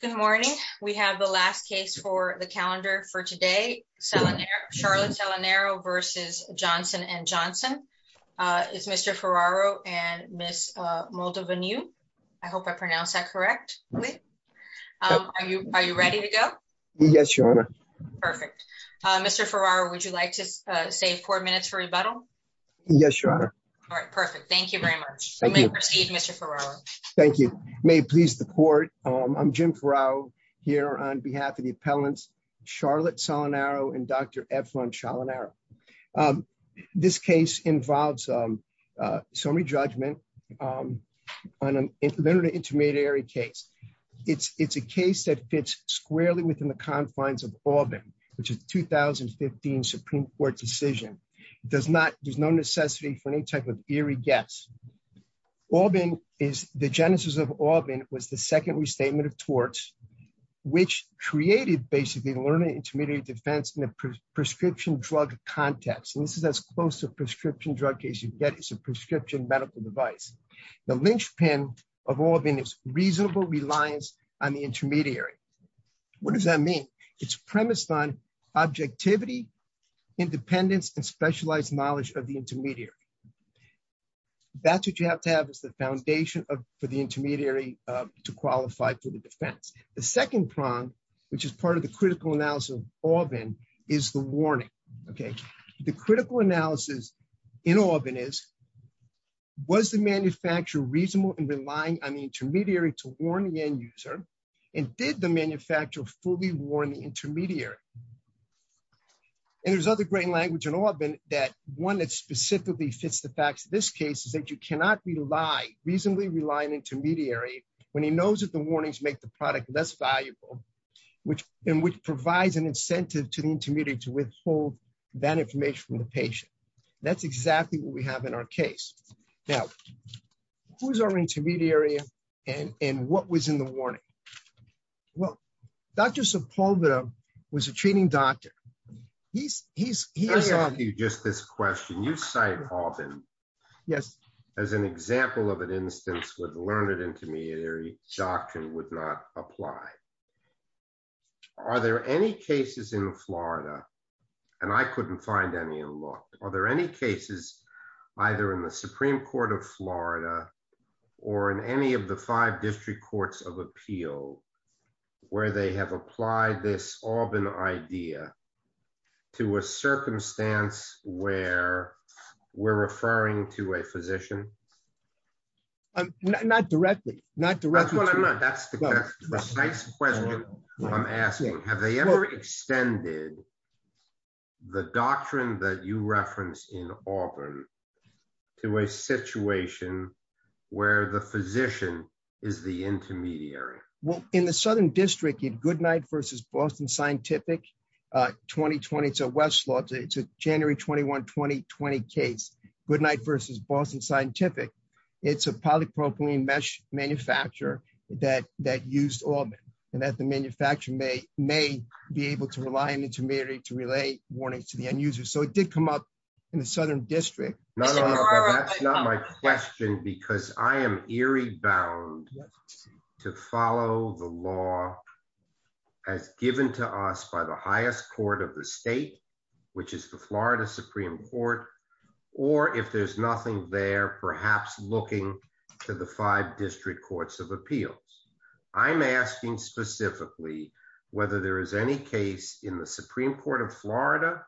Good morning. We have the last case for the calendar for today. Charlotte Salinero v. Johnson & Johnson. It's Mr. Ferraro and Ms. Moldovanew. I hope I pronounced that correctly. Are you ready to go? Yes, Your Honor. Perfect. Mr. Ferraro, would you like to save four minutes for rebuttal? Yes, Your Honor. All right, perfect. Thank you very much. You may proceed, Mr. Ferraro. Thank you. May it please the court, I'm Jim Ferraro here on behalf of the appellants, Charlotte Salinero and Dr. Efron Salinero. This case involves summary judgment on an intermediary case. It's a case that fits squarely within the confines of Aubin, which is the 2015 Supreme Court decision. There's no necessity for any type of eerie guess. Aubin is, the genesis of Aubin was the second restatement of torts, which created basically learning intermediary defense in a prescription drug context. And this is as close to a prescription drug case you can get as a prescription medical device. The linchpin of Aubin is reasonable reliance on the intermediary. What does that mean? It's premised on objectivity, independence, and specialized knowledge of the intermediary. That's what you have to have is the foundation for the intermediary to qualify for the defense. The second prong, which is part of the critical analysis of Aubin is the warning. Okay? The critical analysis in Aubin is, was the manufacturer reasonable in relying on the intermediary to warn the end user? And did the manufacturer fully warn the intermediary? And there's other great language in Aubin that one that specifically fits the facts of this case is that you cannot rely, reasonably rely on an intermediary when he knows that the warnings make the product less valuable, which, and which provides an incentive to the intermediary to withhold that information from the patient. That's exactly what we have in our case. Now, who's our intermediary and what was in the warning? Well, Dr. Sepulveda was a great training doctor. He's, he's- Let me ask you just this question. You cite Aubin as an example of an instance where the learned intermediary doctrine would not apply. Are there any cases in Florida, and I couldn't find any in law, are there any cases either in the Supreme Court of Florida or in any of the five district courts of appeal where they have applied this Aubin idea to a circumstance where we're referring to a physician? Not directly, not directly- That's what I'm asking. Have they ever extended the doctrine that you referenced in Aubin to a situation where the physician is the intermediary? Well, in the Southern District in Goodnight versus Boston Scientific, 2020, it's a Westlaw, it's a January 21, 2020 case, Goodnight versus Boston Scientific. It's a polypropylene mesh manufacturer that, that used Aubin and that the manufacturer may, may be able to rely on intermediary to relay warnings to the end user. So it did come up in the Southern District. No, no, no, that's not my question because I am eerie bound to follow the law as given to us by the highest court of the state, which is the Florida Supreme Court, or if there's nothing there, perhaps looking to the five district courts of appeals. I'm asking specifically whether there is any case in the Supreme Court of Florida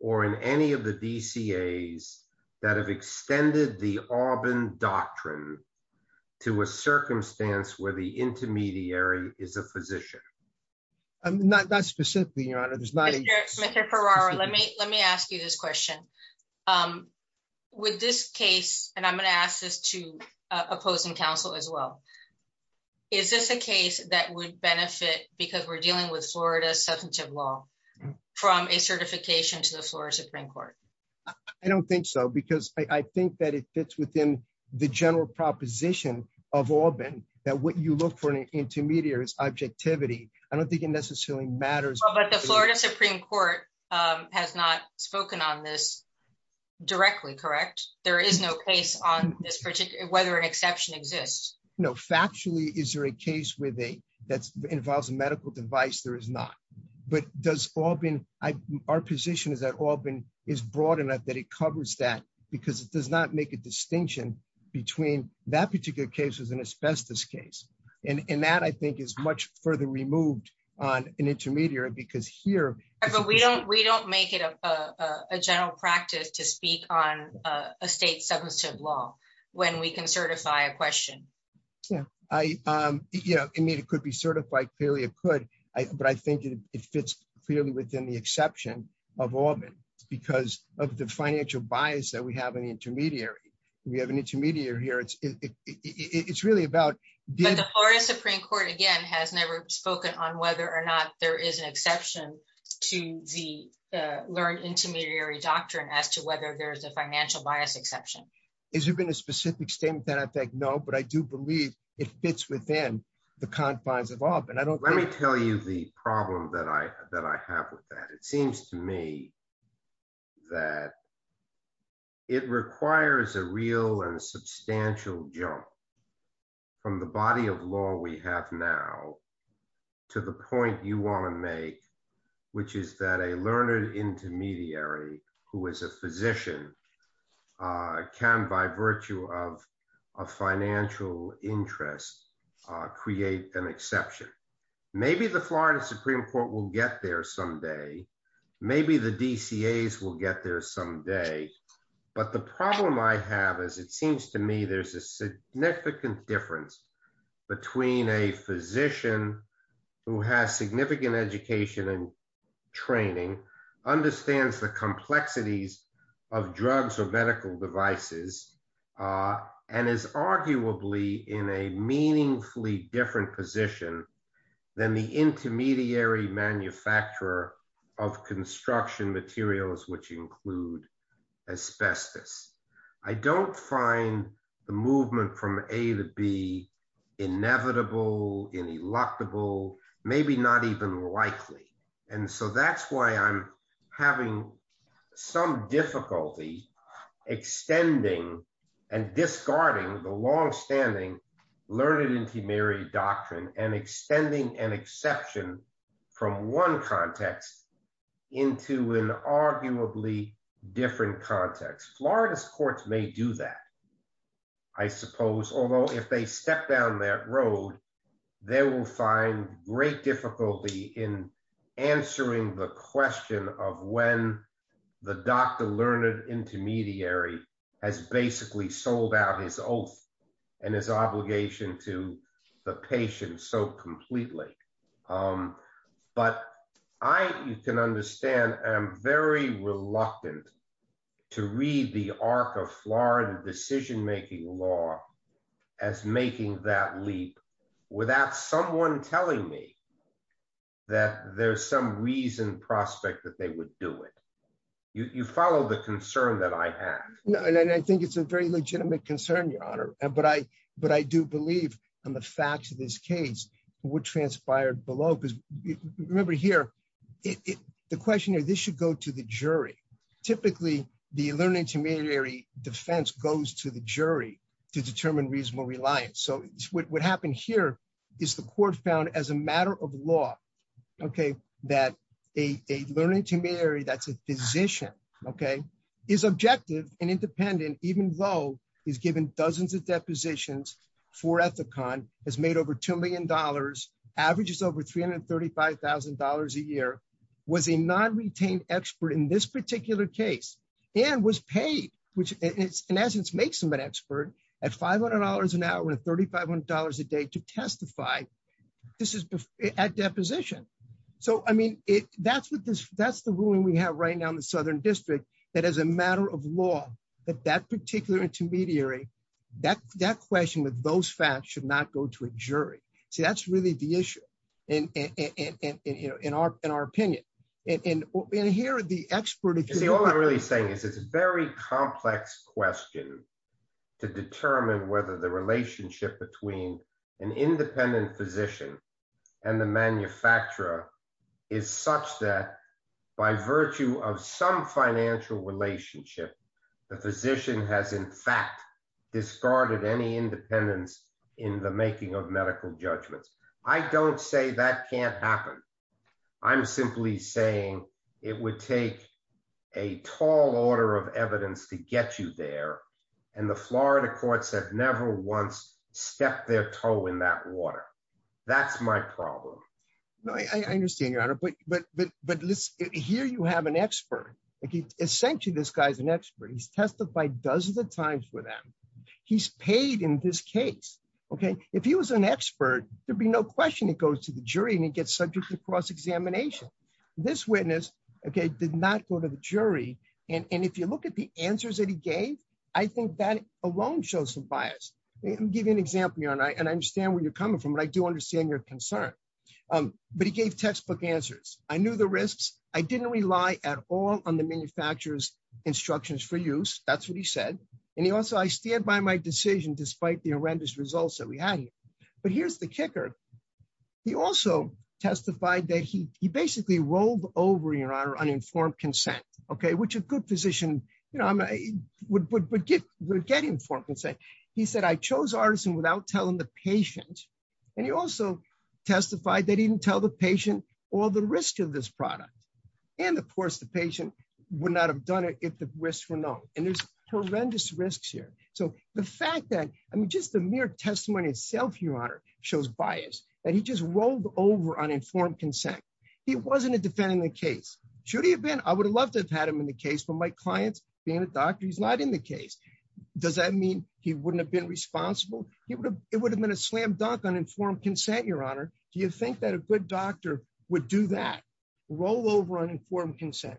or in any of the DCAs that have extended the Aubin doctrine to a circumstance where the intermediary is a physician. Not specifically, Your Honor, there's not a- Mr. Ferraro, let me, let me ask you this question. With this case, and I'm going to ask this to opposing counsel as well, is this a case that would benefit because we're dealing with Florida's substantive law from a certification to the Florida Supreme Court? I don't think so, because I think that it fits within the general proposition of Aubin that what you look for in an intermediary is objectivity. I don't think it necessarily matters. But the Florida Supreme Court has not spoken on this directly, correct? There is no case on this, whether an exception exists. No, factually, is there a case that involves a medical device? There is not. But does Aubin, our position is that Aubin is broad enough that it covers that because it does not make a distinction between that particular case as an asbestos case. And that, I think, is much further removed on an intermediary because here- But we don't make it a general practice to speak on a state substantive law when we can certify a question. Yeah. I mean, it could be certified, clearly it could, but I think it fits clearly within the exception of Aubin because of the financial bias that we have in the intermediary. We have an intermediary here. It's really about- But the Florida Supreme Court, again, has never spoken on whether or not there is an exception to the learned intermediary doctrine as to whether there's a financial bias exception. Has there been a specific statement that I think, no, but I do believe it fits within the confines of Aubin. I don't think- Let me tell you the problem that I have with that. It seems to me that it requires a real and substantial jump from the body of law we have now to the point you want to make, which is that a learned intermediary who is a physician can, by virtue of a financial interest, create an exception. Maybe the Florida Supreme Court will get there someday. Maybe the DCAs will get there someday. But the problem I have is it seems to me there's a significant difference between a physician who has significant education and training, understands the complexities of drugs or medical devices, and is arguably in a meaningfully different position than the intermediary manufacturer of construction materials, which include asbestos. I don't find the movement from A to B inevitable, ineluctable, maybe not even likely. And so that's why I'm having some difficulty extending and discarding the long-standing learned intermediary doctrine and extending an exception from one context into an arguably different context. Florida's courts may do that, I suppose, although if they step down that road, they will find great difficulty in answering the question of when the Dr. Learned Intermediary has basically sold out his oath and his obligation to the patient so completely. But I, you can understand, am very reluctant to read the arc of Florida decision-making law as making that leap without someone telling me that there's some reason, prospect that they would do it. You follow the concern that I have. No, and I think it's a very legitimate concern, Your Honor. But I do believe on the facts of this case, what transpired below, because remember here, the question is, this should go to the jury. Typically, the learned intermediary defense goes to the jury to determine reasonable reliance. So what happened here is the court found as a matter of law, okay, that a learned intermediary, that's a physician, okay, is objective and independent, even though he's given dozens of depositions for Ethicon, has made over $2 million, averages over $335,000 a year, was a non-retained expert in this particular case, and was paid, which in essence makes him an expert, at $500 an hour and $3,500 a day to testify at deposition. So, I mean, that's the ruling we have right now in the Southern District, that as a matter of law, that that particular intermediary, that question with those facts should not go to a jury. See, that's really the issue in our opinion. And here are the experts- You see, all I'm really saying is it's a very complex question to determine whether the relationship between an independent physician and the manufacturer is such that by virtue of some financial relationship, the physician has in fact discarded any independence in the making of medical judgments. I don't say that can't happen. I'm simply saying it would take a tall order of evidence to get you there, and the Florida courts have never once stepped their toe in that water. That's my problem. No, I understand, Your Honor, but listen, here you have an expert. Essentially, this guy's an expert. He's testified dozens of times with them. He's paid in this case, okay? If he was an expert, there'd be no question it goes to the jury and he gets subject to cross-examination. This witness, okay, did not go to the jury, and if you look at the answers that he gave, I think that alone shows some bias. I'm giving an example, Your Honor, and I understand where you're coming from, but I do understand your concern, but he gave textbook answers. I knew the risks. I didn't rely at all on the manufacturer's instructions for use. That's what he said, and he also, I stand by my decision despite the horrendous results that we had here, but here's the kicker. He also testified that he basically rolled over, Your Honor, on informed consent, okay, which a good physician, you know, would get informed consent. He said, I chose artisan without telling the patient, and he also testified that he didn't tell the patient all the risks of this product, and of course, the patient would not have done it if the risks were known, and there's horrendous risks here, so the fact that, I mean, just the mere testimony itself, Your Honor, shows bias that he just rolled over on informed consent. He wasn't a defendant in the case. Should he have been? I would have loved to have had him in the case. Does that mean he wouldn't have been responsible? It would have been a slam dunk on informed consent, Your Honor. Do you think that a good doctor would do that, roll over on informed consent?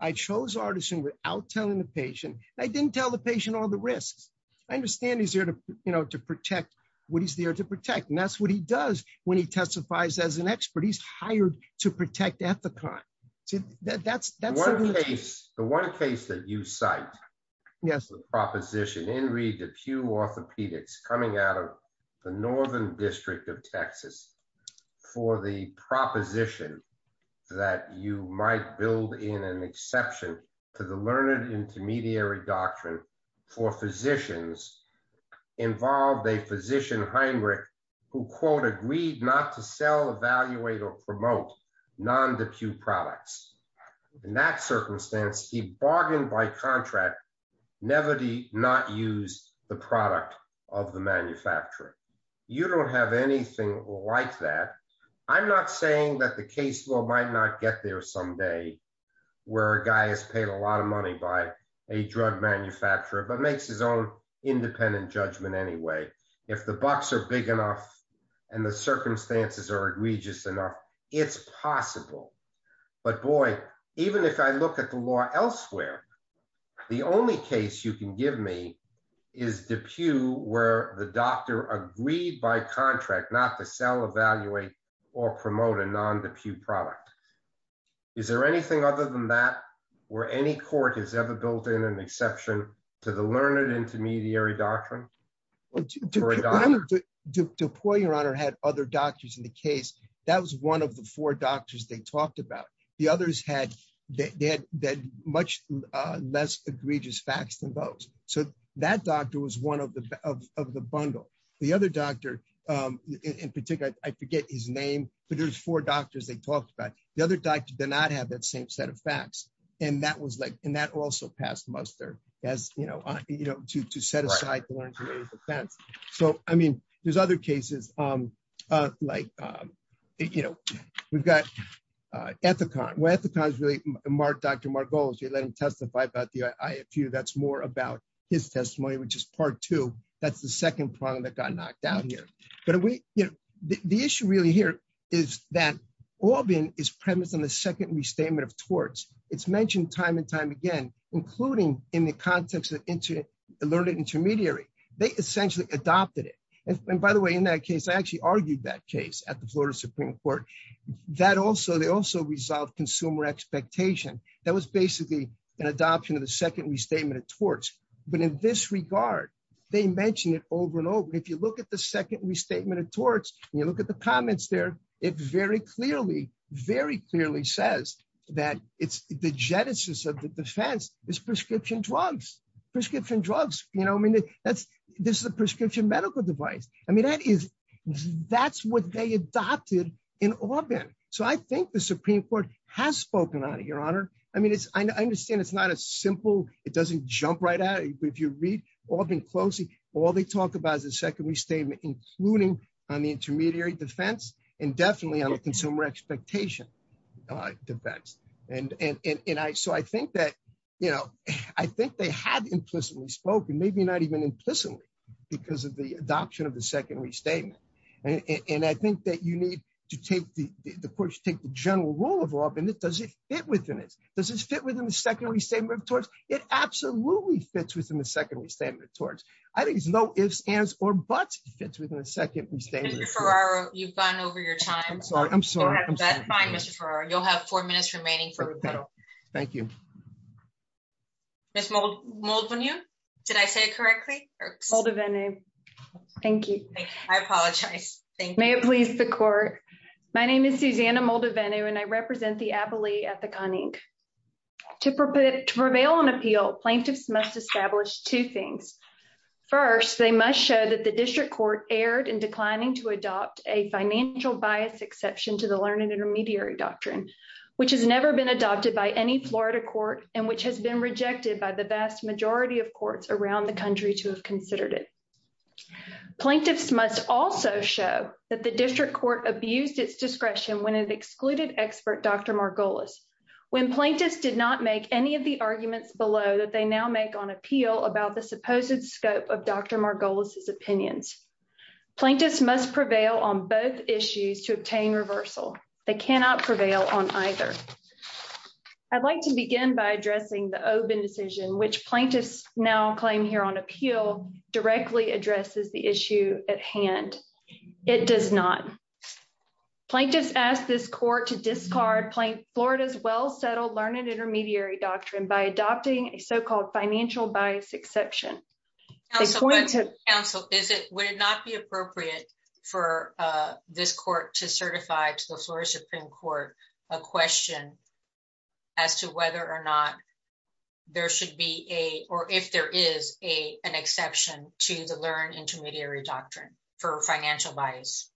I chose artisan without telling the patient, and I didn't tell the patient all the risks. I understand he's there to, you know, to protect what he's there to protect, and that's what he does when he testifies as an expert. He's hired to protect the client. The one case that you cite, yes, the proposition in Reed DePue orthopedics coming out of the Northern District of Texas for the proposition that you might build in an exception to the learned intermediary doctrine for physicians involved a physician Heinrich who, quote, agreed not to sell, evaluate, or promote non-DePue products. In that circumstance, he bargained by contract, never did he not use the product of the manufacturer. You don't have anything like that. I'm not saying that the case law might not get there someday where a guy has paid a lot of money by a drug manufacturer but makes his own independent judgment anyway. If the bucks are big enough and the circumstances are egregious enough, it's possible. But boy, even if I look at the law elsewhere, the only case you can give me is DePue where the doctor agreed by contract not to sell, evaluate, or promote a non-DePue product. Is there anything other than that where any court has ever built in an exception to the learned intermediary doctrine? DePue, Your Honor, had other doctors in the case. That was one of the four doctors they talked about. The others had much less egregious facts than those. So that doctor was one of the bundle. The other doctor, in particular, I forget his name, but there's four doctors they talked about. The other doctor did not have that same set of facts. And that was like, and that also passed as, you know, to set aside the learned intermediary defense. So, I mean, there's other cases like, you know, we've got Ethicon. Ethicon is really Dr. Margolis. You let him testify about the IFU. That's more about his testimony, which is part two. That's the second problem that got knocked out here. But we, you know, the issue really here is that Orban is premised on the restatement of torts. It's mentioned time and time again, including in the context of learned intermediary. They essentially adopted it. And by the way, in that case, I actually argued that case at the Florida Supreme Court. That also, they also resolved consumer expectation. That was basically an adoption of the second restatement of torts. But in this regard, they mentioned it over and over. If you look at the second restatement of torts, it very clearly says that the genesis of the defense is prescription drugs. Prescription drugs, you know, I mean, this is a prescription medical device. I mean, that's what they adopted in Orban. So, I think the Supreme Court has spoken on it, Your Honor. I mean, I understand it's not as simple. It doesn't jump right out. If you read Orban closely, all they talk about is the second restatement, including on the intermediary defense and definitely on the consumer expectation defense. And so, I think that, you know, I think they had implicitly spoken, maybe not even implicitly, because of the adoption of the second restatement. And I think that you need to take the, of course, take the general rule of law, but does it fit within it? Does it fit within the second restatement of torts? It absolutely fits within the second restatement of torts. I think it's no ifs, ands, or buts it fits within the second restatement of torts. Mr. Ferraro, you've gone over your time. I'm sorry. I'm sorry. That's fine, Mr. Ferraro. You'll have four minutes remaining for rebuttal. Thank you. Ms. Moldavenu, did I say it correctly? Moldavenu. Thank you. I apologize. Thank you. May it please the court. My name is Susanna Moldavenu, and I represent the appellee at the CONINC. To prevail on appeal, plaintiffs must establish two things. First, they must show that the district court erred in declining to adopt a financial bias exception to the learned intermediary doctrine, which has never been adopted by any Florida court, and which has been rejected by the vast majority of courts around the country to have considered it. Plaintiffs must also show that the district court abused its discretion when it excluded expert Dr. Margolis. When plaintiffs did not make any of the arguments below that they now make on appeal about the supposed scope of Dr. Margolis's opinions, plaintiffs must prevail on both issues to obtain reversal. They cannot prevail on either. I'd like to begin by addressing the Obenn decision, which plaintiffs now claim here on appeal directly addresses the issue at hand. It does not. Plaintiffs ask this court to discard Florida's well-settled learned intermediary doctrine by adopting a so-called financial bias exception. Counsel, would it not be appropriate for this court to certify to the Florida Supreme Court a question as to whether or not there should be a, or if there is a, an exception to the learned intermediary doctrine for financial bias?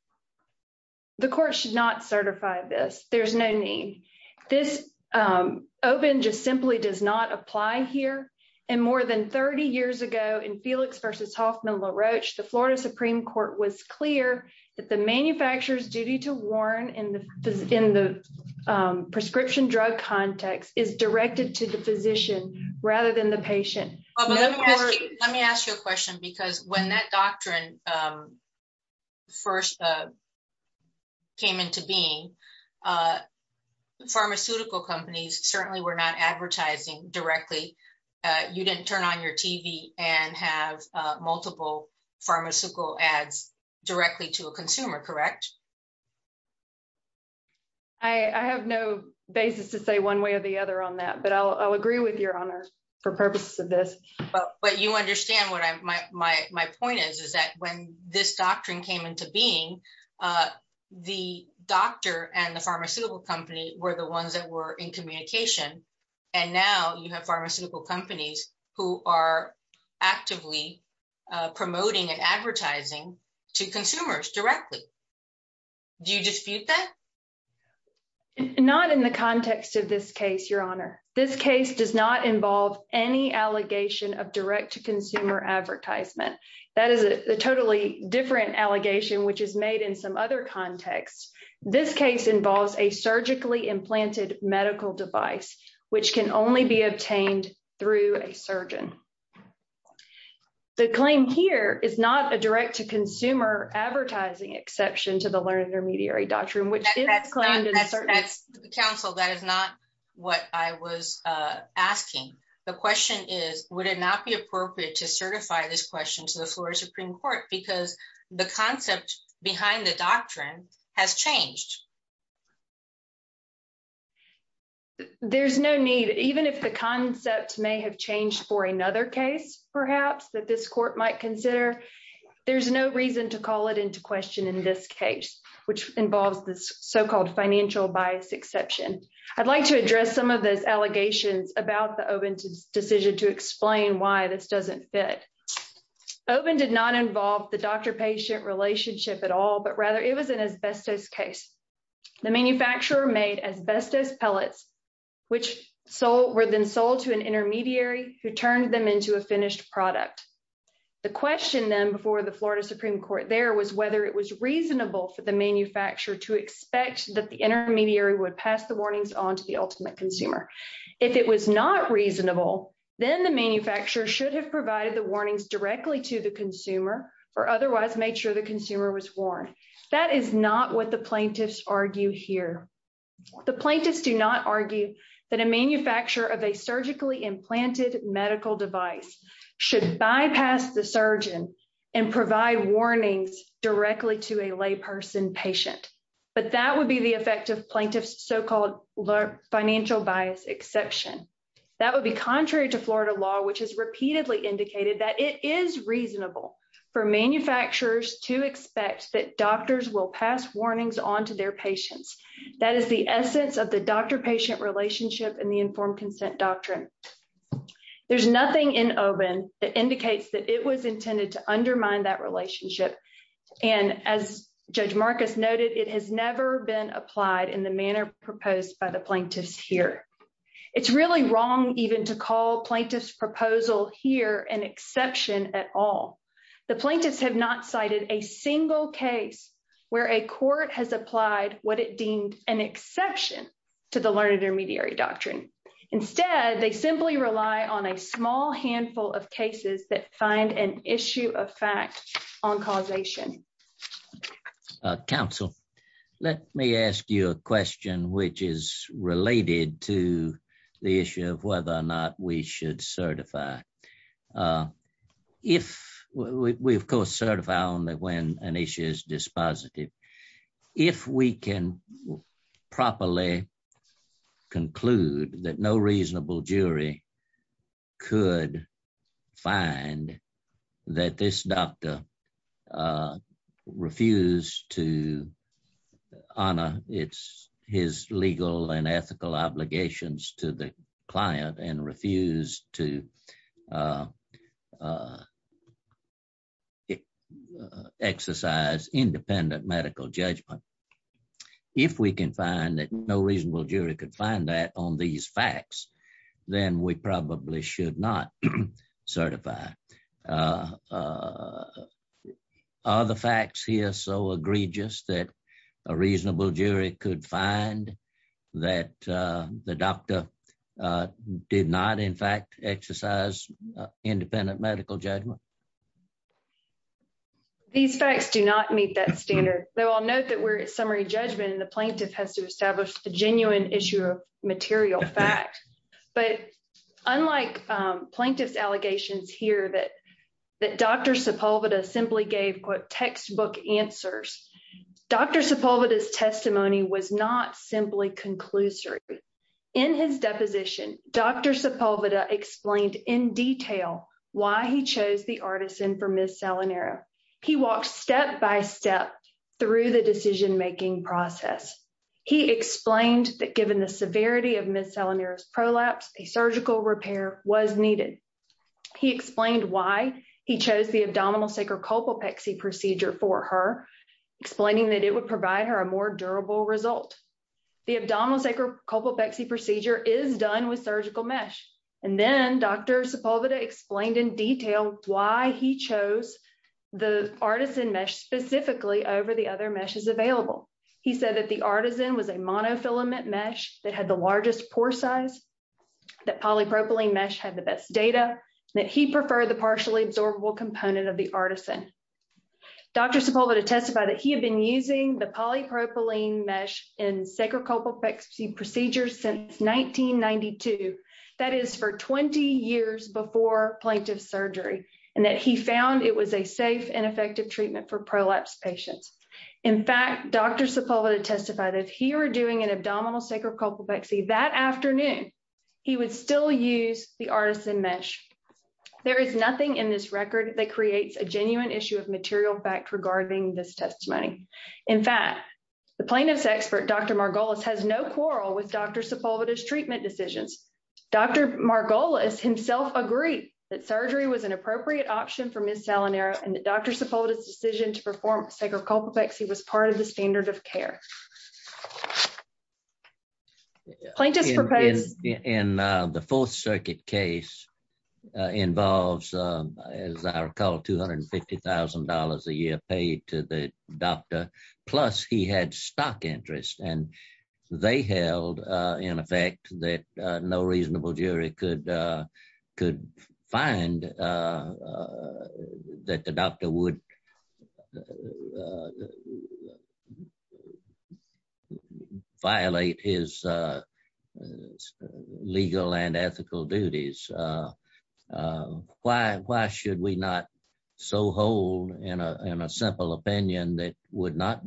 The court should not certify this. There's no need. This, Obenn just simply does not apply here. And more than 30 years ago in Felix versus Hoffman LaRoche, the Florida Supreme Court was clear that the manufacturer's duty to warn in the, in the prescription drug context is directed to the physician rather than the patient. Let me ask you a question because when that doctrine first came into being, pharmaceutical companies certainly were not advertising directly. You didn't turn on your TV and have multiple pharmaceutical ads directly to a consumer, correct? I have no basis to say one way or the other on that, but I'll agree with your honor for purposes of this. But, but you understand what my, my, my point is, is that when this doctrine came into being the doctor and the pharmaceutical company were the ones that were in communication. And now you have pharmaceutical companies who are actively promoting and advertising to consumers directly. Do you dispute that? Not in the context of this case, your honor. This case does not involve any allegation of direct to consumer advertisement. That is a totally different allegation, which is made in some other contexts. This case involves a surgically implanted medical device, which can only be obtained through a surgeon. The claim here is not a direct to consumer advertising exception to the learned intermediary doctrine, which is that's counsel. That is not what I was asking. The question is, would it not be appropriate to certify this question to the floor Supreme court, because the concept behind the doctrine has changed. There's no need, even if the concept may have changed for another case, perhaps that this court might consider, there's no reason to call it into question in this case, which involves this so-called financial bias exception. I'd like to address some of those allegations about the open to decision to explain why this doesn't fit. Open did not involve the doctor patient relationship at all, but rather it was an asbestos case. The manufacturer made asbestos pellets, which sold were then sold to an intermediary who turned them into a finished product. The question then before the Florida Supreme court there was whether it was reasonable for the manufacturer to expect that the intermediary would pass the warnings on to the ultimate consumer. If it was not reasonable, then the manufacturer should have provided the warnings directly to the consumer or otherwise made sure the consumer was warned. That is not what the plaintiffs argue here. The plaintiffs do not argue that a manufacturer of a surgically implanted medical device should bypass the surgeon and provide warnings directly to a lay person patient, but that would be the effect of plaintiff's so-called financial bias exception. That would be contrary to Florida law, which has repeatedly indicated that it is reasonable for manufacturers to expect that doctors will pass warnings onto their patients. That is the essence of the doctor relationship and the informed consent doctrine. There's nothing in open that indicates that it was intended to undermine that relationship. And as judge Marcus noted, it has never been applied in the manner proposed by the plaintiffs here. It's really wrong even to call plaintiff's proposal here an exception at all. The plaintiffs have not cited a single case where a court has applied what it deemed an exception to the learned intermediary doctrine. Instead, they simply rely on a small handful of cases that find an issue of fact on causation. Counsel, let me ask you a question, which is related to the issue of whether or not we should in properly conclude that no reasonable jury could find that this doctor refused to honor his legal and ethical obligations to the client and refused to exercise independent medical judgment. If we can find that no reasonable jury could find that on these facts, then we probably should not certify. Are the facts here so egregious that a reasonable jury could find that the doctor did not, in fact, exercise independent medical judgment? These facts do not meet that standard, though I'll note that we're at summary judgment and the plaintiff has to establish a genuine issue of material fact. But unlike plaintiff's allegations here that Dr. Sepulveda simply gave textbook answers, Dr. Sepulveda's testimony was not simply conclusory. In his deposition, Dr. Sepulveda explained in detail why he chose the He walked step by step through the decision-making process. He explained that given the severity of Ms. Salinero's prolapse, a surgical repair was needed. He explained why he chose the explaining that it would provide her a more durable result. The abdominal sacrocopalpexy procedure is done with surgical mesh. And then Dr. Sepulveda explained in detail why he chose the artisan mesh specifically over the other meshes available. He said that the artisan was a monofilament mesh that had the largest pore size, that polypropylene mesh had the best data, that he preferred the partially absorbable component of the artisan. Dr. Sepulveda testified that he had been using the polypropylene mesh in sacrocopalpexy procedures since 1992, that is, 20 years before plaintiff's surgery, and that he found it was a safe and effective treatment for prolapse patients. In fact, Dr. Sepulveda testified that if he were doing an abdominal sacrocopalpexy that afternoon, he would still use the artisan mesh. There is nothing in this record that creates a genuine issue of material fact regarding this testimony. In fact, the plaintiff's expert, Dr. Margolis has no quarrel with Dr. Sepulveda's treatment decisions. Dr. Margolis himself agreed that surgery was an appropriate option for Ms. Salinero, and that Dr. Sepulveda's decision to perform sacrocopalpexy was part of the standard of care. In the Fourth Circuit case involves, as I recall, $250,000 a year paid to the doctor, plus he had stock interest, and they held in effect that no reasonable jury could find that the doctor would violate his legal and ethical duties. Why should we not so hold in a simple opinion that would not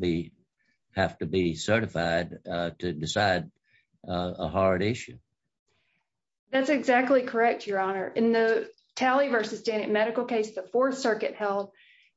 have to be certified to decide a hard issue? That's exactly correct, Your Honor. In the Talley v. Stanton medical case, the Fourth Circuit held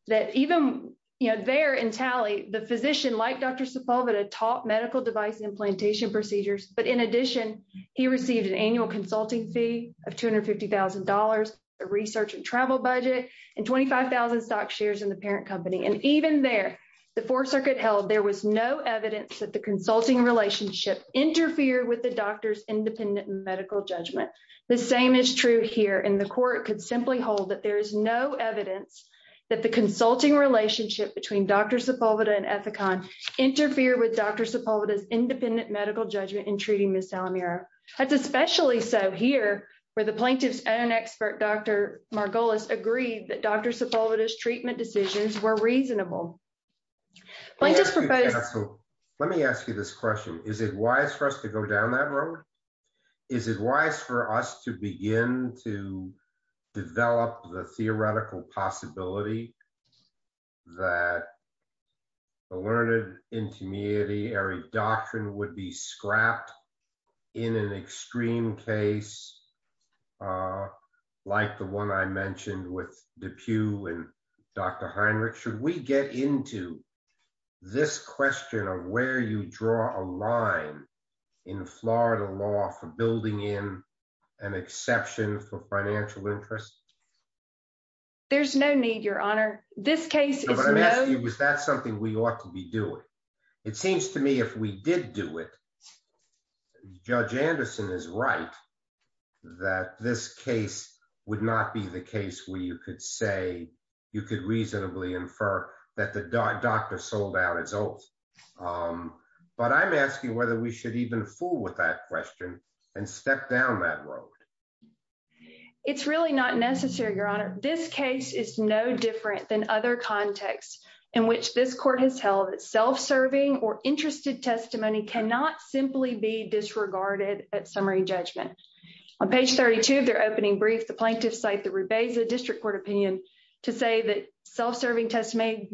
that even there in Talley, the physician, like Dr. Sepulveda, taught medical device implantation procedures, but in addition, he received an annual consulting fee of $250,000, a research and travel budget, and 25,000 stock shares in the parent company. And even there, the Fourth Circuit held there was no evidence that the consulting relationship interfered with the doctor's independent medical judgment. The same is true here, and the court could simply hold that there is no evidence that the consulting relationship between Dr. Sepulveda and Ethicon interfered with Dr. Sepulveda's independent medical judgment in treating Ms. Salinero. That's especially so here, where the plaintiff's own expert, Dr. Margolis, agreed that Dr. Sepulveda's treatment decisions were reasonable. Let me ask you this question. Is it wise for us to go down that road? Is it wise for us to begin to develop the theoretical possibility that the learned intimidatory doctrine would be scrapped in an extreme case, like the one I mentioned with DePue and Dr. Heinrich? Should we get into this question of where you draw a line in Florida law for building in an exception for financial interest? There's no need, Your Honor. This case is no— No, but I'm asking you, is that something we ought to be doing? It seems to me if we did do it, Judge Anderson is right that this case would not be the case where you could say, you could reasonably infer that the doctor sold out his oath. But I'm asking whether we should even fool with that question and step down that road. It's really not necessary, Your Honor. This case is no different than other contexts in which this court has held that self-serving or interested testimony cannot simply be disregarded at summary judgment. On page 32 of their opening brief, the plaintiffs cite the Rubesa District Court opinion to say that self-serving test may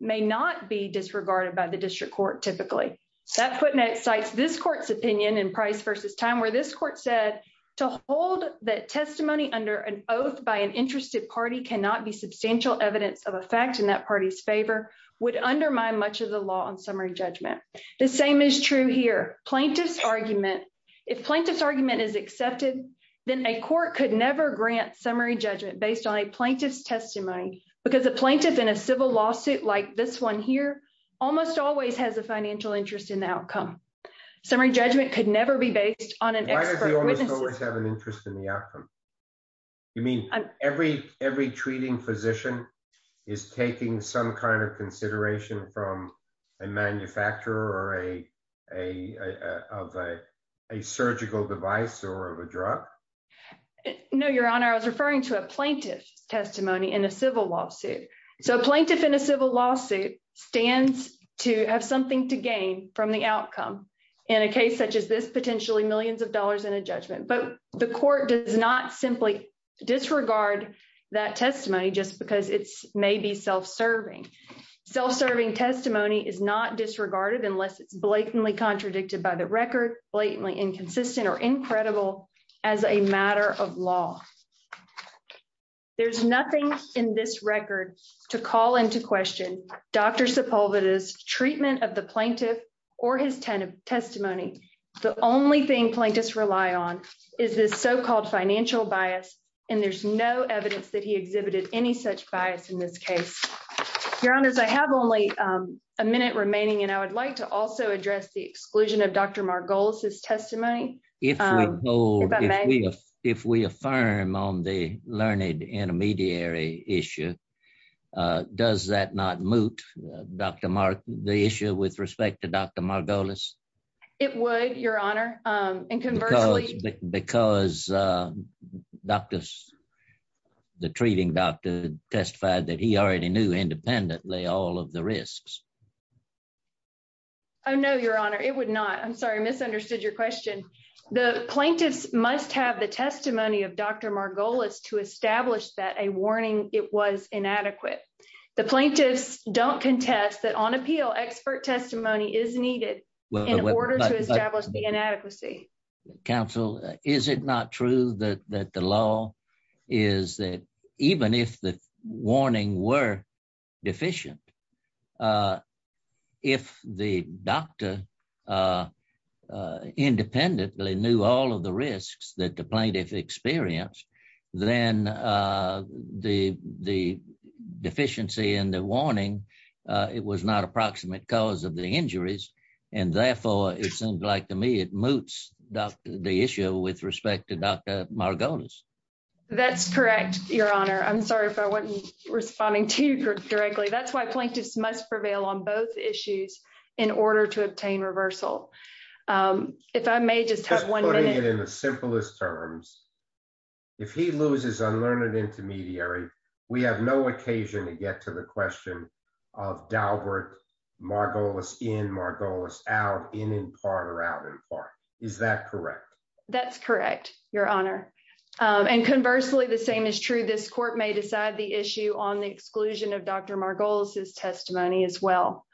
not be disregarded by the district court typically. That footnote cites this court's opinion in Price v. Time, where this court said to hold that testimony under an oath by an interested party cannot be substantial evidence of a fact in that party's favor would undermine much of the law on summary judgment. The same is true here. Plaintiff's argument—if plaintiff's argument is accepted, then a court could never grant summary judgment based on a plaintiff's testimony because a plaintiff in a civil lawsuit like this one here almost always has a financial interest in the outcome. Summary judgment could always have an interest in the outcome. You mean every treating physician is taking some kind of consideration from a manufacturer of a surgical device or of a drug? No, Your Honor. I was referring to a plaintiff's testimony in a civil lawsuit. So a plaintiff in a civil lawsuit stands to have something to gain from the outcome in a case such as this potentially millions of dollars in a judgment. But the court does not simply disregard that testimony just because it's maybe self-serving. Self-serving testimony is not disregarded unless it's blatantly contradicted by the record, blatantly inconsistent, or incredible as a matter of law. There's nothing in this record to call into question Dr. Sepulveda's plaintiff or his testimony. The only thing plaintiffs rely on is this so-called financial bias, and there's no evidence that he exhibited any such bias in this case. Your Honors, I have only a minute remaining, and I would like to also address the exclusion of Dr. Margolis's testimony. If we affirm on the learned intermediary issue, does that not moot, Dr. Margolis, the issue with respect to Dr. Margolis? It would, Your Honor, and conversely... Because the treating doctor testified that he already knew independently all of the risks. Oh no, Your Honor, it would not. I'm sorry, I misunderstood your question. The plaintiffs must have the testimony of Dr. Margolis to establish that a warning, it was inadequate. The plaintiffs don't contest that on appeal, expert testimony is needed in order to establish the inadequacy. Counsel, is it not true that the law is that even if the warning were deficient, if the doctor independently knew all of the risks that the plaintiff experienced, then the deficiency in the warning, it was not approximate cause of the injuries, and therefore, it seems like to me it moots the issue with respect to Dr. Margolis. That's correct, Your Honor. I'm sorry if I wasn't responding to you directly. That's why plaintiffs must prevail on both issues in order to obtain reversal. If I may just have one in the simplest terms, if he loses unlearned intermediary, we have no occasion to get to the question of Dalbert, Margolis in, Margolis out, in in part or out in part. Is that correct? That's correct, Your Honor, and conversely, the same is true. This court may decide the issue on the exclusion of Dr. Margolis' testimony as well.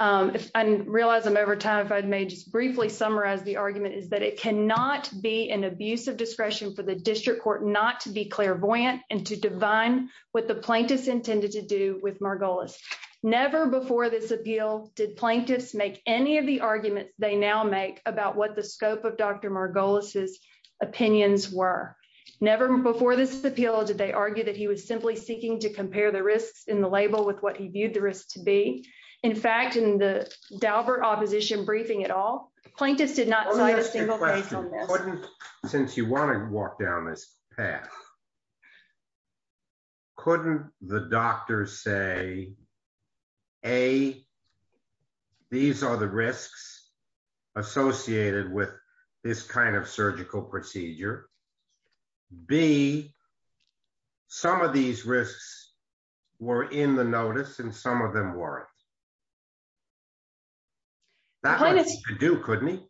I realize I'm over time, if I may just be brief. In fact, in the Dalbert opposition briefing at all, plaintiffs did not cite a single since you want to walk down this path. Couldn't the doctor say, A, these are the risks associated with this kind of surgical procedure? B, some of these risks were in the notice and some of them weren't. That's what he could do, couldn't he?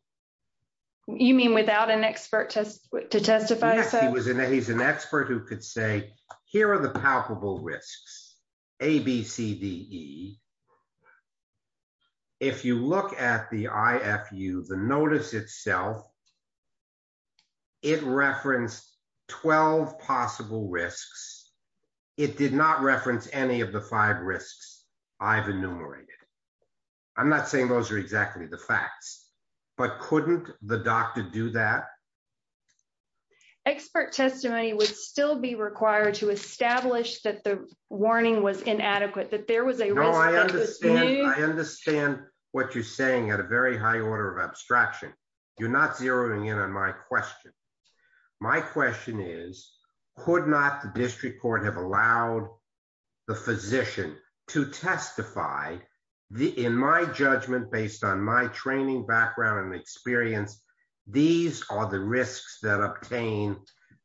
You mean without an expert to testify? He's an expert who could say, here are the palpable risks, A, B, C, D, E. If you look at the IFU, the notice itself, it referenced 12 possible risks. It did not reference any of the five risks I've enumerated. I'm not saying those are exactly the facts, but couldn't the doctor do that? Expert testimony would still be required to establish that the warning was inadequate, that there was a risk. No, I understand. I understand what you're saying at a very high order of abstraction. You're not zeroing in on my question. My question is, could not the district court have allowed the physician to testify? In my judgment, based on my training background and experience, these are the risks that obtain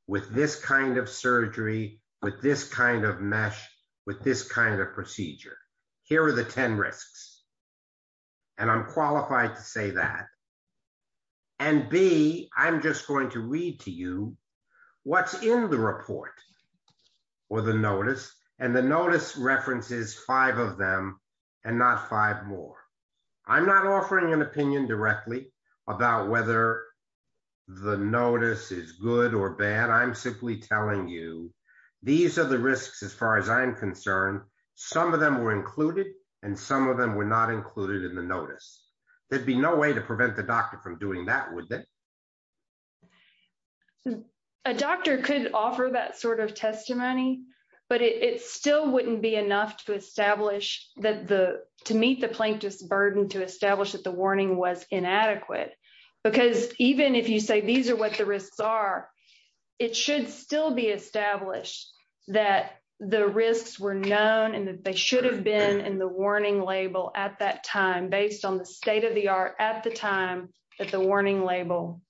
with this kind of surgery, with this kind of mesh, with this kind of procedure. Here are the 10 to you. What's in the report or the notice? The notice references five of them and not five more. I'm not offering an opinion directly about whether the notice is good or bad. I'm simply telling you these are the risks as far as I'm concerned. Some of them were included and some of them were not included in the notice. There'd be no way to prevent the doctor from doing that, would there? A doctor could offer that sort of testimony, but it still wouldn't be enough to meet the plaintiff's burden to establish that the warning was inadequate. Because even if you say these are what the risks are, it should still be established that the risks were known and that they should have been in the warning label at that time based on the state of the art at the time that the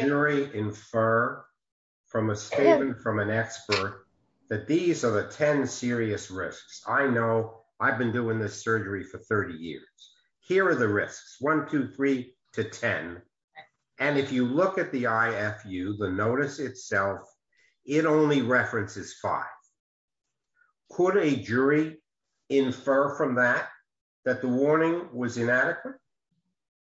jury infer from a statement from an expert that these are the 10 serious risks. I know I've been doing this surgery for 30 years. Here are the risks. One, two, three to 10. And if you look at the IFU, the notice itself, it only references five. Could a jury infer from that that the warning was inadequate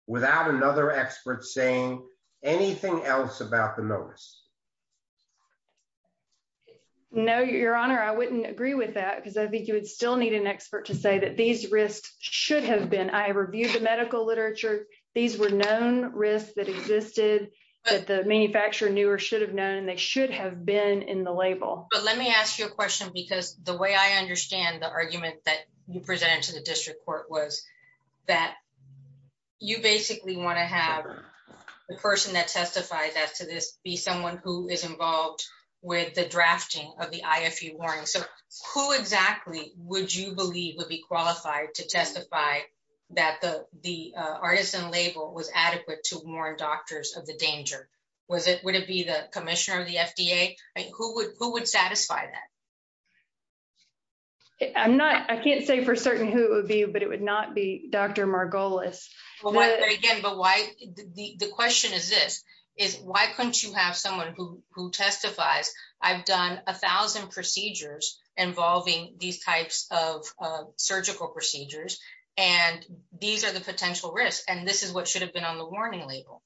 without another expert saying anything else about the notice? No, your honor. I wouldn't agree with that because I think you would still need an expert to say that these risks should have been. I reviewed the medical literature. These were known risks that existed that the manufacturer knew or should have known and they should have been in the label. But let me ask you a question because the way I understand the argument that you presented to the district court was that you basically want to have the person that testifies as to this be someone who is involved with the drafting of the IFU warning. So who exactly would you believe would be qualified to testify that the artisan label was adequate to warn doctors of the danger? Would it be the commissioner of the FDA? Who would satisfy that? I'm not, I can't say for certain who it would be, but it would not be Dr. Margolis. Again, the question is this, is why couldn't you have someone who testifies, I've done a thousand procedures involving these types of surgical procedures, and these are the potential risks. And this is what should have been on the warning label.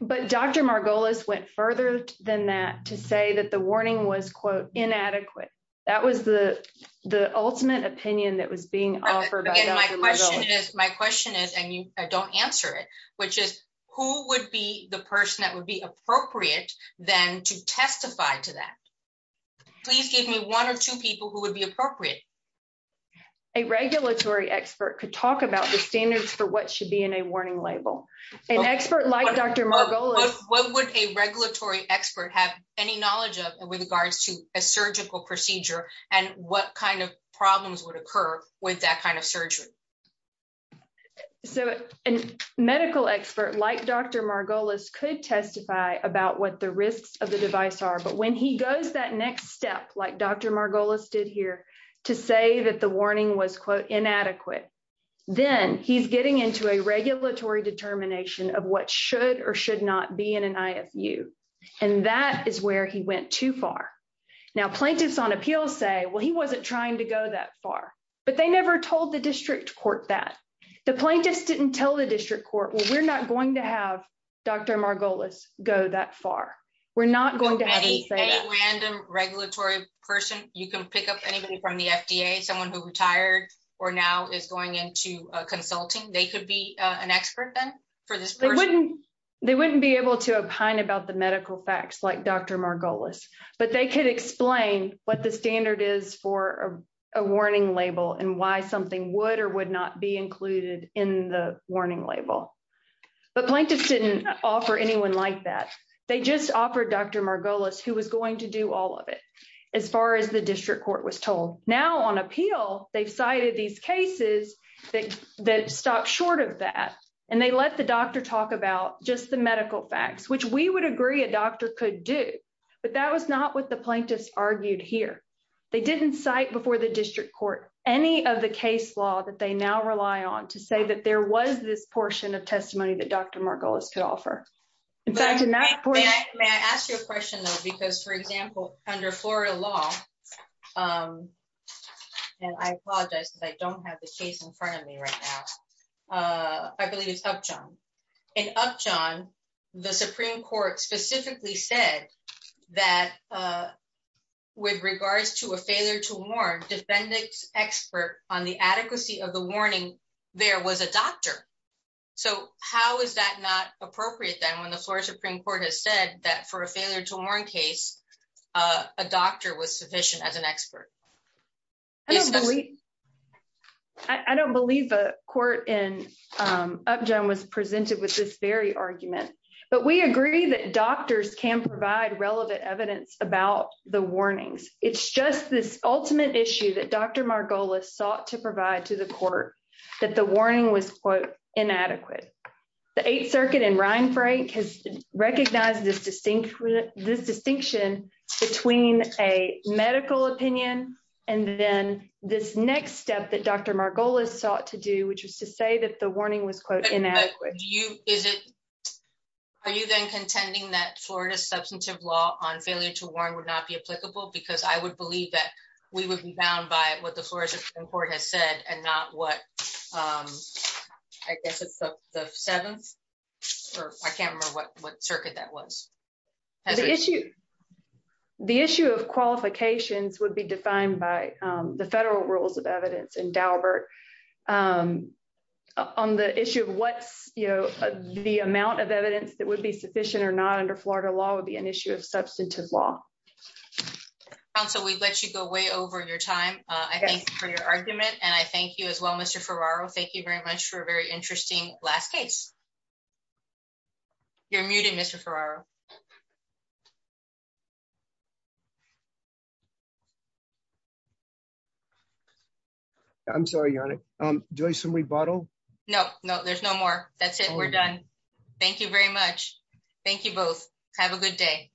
But Dr. Margolis went further than that to say that the warning was quote inadequate. That was the, the ultimate opinion that was being offered. My question is, and you don't answer it, which is who would be the person that would be appropriate then to testify to that? Please give me one or two people who would be appropriate. A regulatory expert could talk about the standards for what should be in a warning label. An expert like Dr. Margolis. What would a regulatory expert have any knowledge of with regards to a surgical procedure and what kind of problems would occur with that kind of surgery? So a medical expert like Dr. Margolis could testify about what the risks of the device are. But when he goes that next step, like Dr. Margolis did here to say that the warning was quote inadequate, then he's getting into a regulatory determination of what should or should not be in an IFU. And that is where he went too far. Now, plaintiffs on appeal say, well, he wasn't trying to go that far, but they never told the district court that. The plaintiffs didn't tell the district court, well, we're not going to have Dr. Margolis go that far. We're not going to have him say that. Any random regulatory person, you can pick up from the FDA, someone who retired or now is going into consulting. They could be an expert then. They wouldn't be able to opine about the medical facts like Dr. Margolis, but they could explain what the standard is for a warning label and why something would or would not be included in the warning label. But plaintiffs didn't offer anyone like that. They just offered Dr. Margolis who was going to do all of it. As far as the district court was now on appeal, they've cited these cases that stop short of that. And they let the doctor talk about just the medical facts, which we would agree a doctor could do. But that was not what the plaintiffs argued here. They didn't cite before the district court, any of the case law that they now rely on to say that there was this portion of testimony that Dr. Margolis could offer. In fact, in that point- May I ask you a question though? Because for example, under Florida law, and I apologize because I don't have the case in front of me right now. I believe it's Upjohn. In Upjohn, the Supreme Court specifically said that with regards to a failure to warn, defendant's expert on the adequacy of the warning there was a doctor. So how is that not appropriate then when the Florida Supreme Court has said that for a failure to warn case, a doctor was sufficient as an expert? I don't believe the court in Upjohn was presented with this very argument, but we agree that doctors can provide relevant evidence about the warnings. It's just this inadequate. The Eighth Circuit and Reinfrank has recognized this distinction between a medical opinion and then this next step that Dr. Margolis sought to do, which was to say that the warning was quote inadequate. Are you then contending that Florida's substantive law on failure to warn would not be applicable? Because I would believe that we would be bound by what the seventh or I can't remember what circuit that was. The issue of qualifications would be defined by the federal rules of evidence in Daubert. On the issue of what's the amount of evidence that would be sufficient or not under Florida law would be an issue of substantive law. Counsel, we let you go way over your time. I thank you for your argument and I thank you as well, Mr. Ferraro. Thank you very much for a very interesting last case. You're muted, Mr. Ferraro. I'm sorry, Your Honor. Do I have some rebuttal? No, no, there's no more. That's it. We're done. Thank you very much. Thank you both. Have a good day.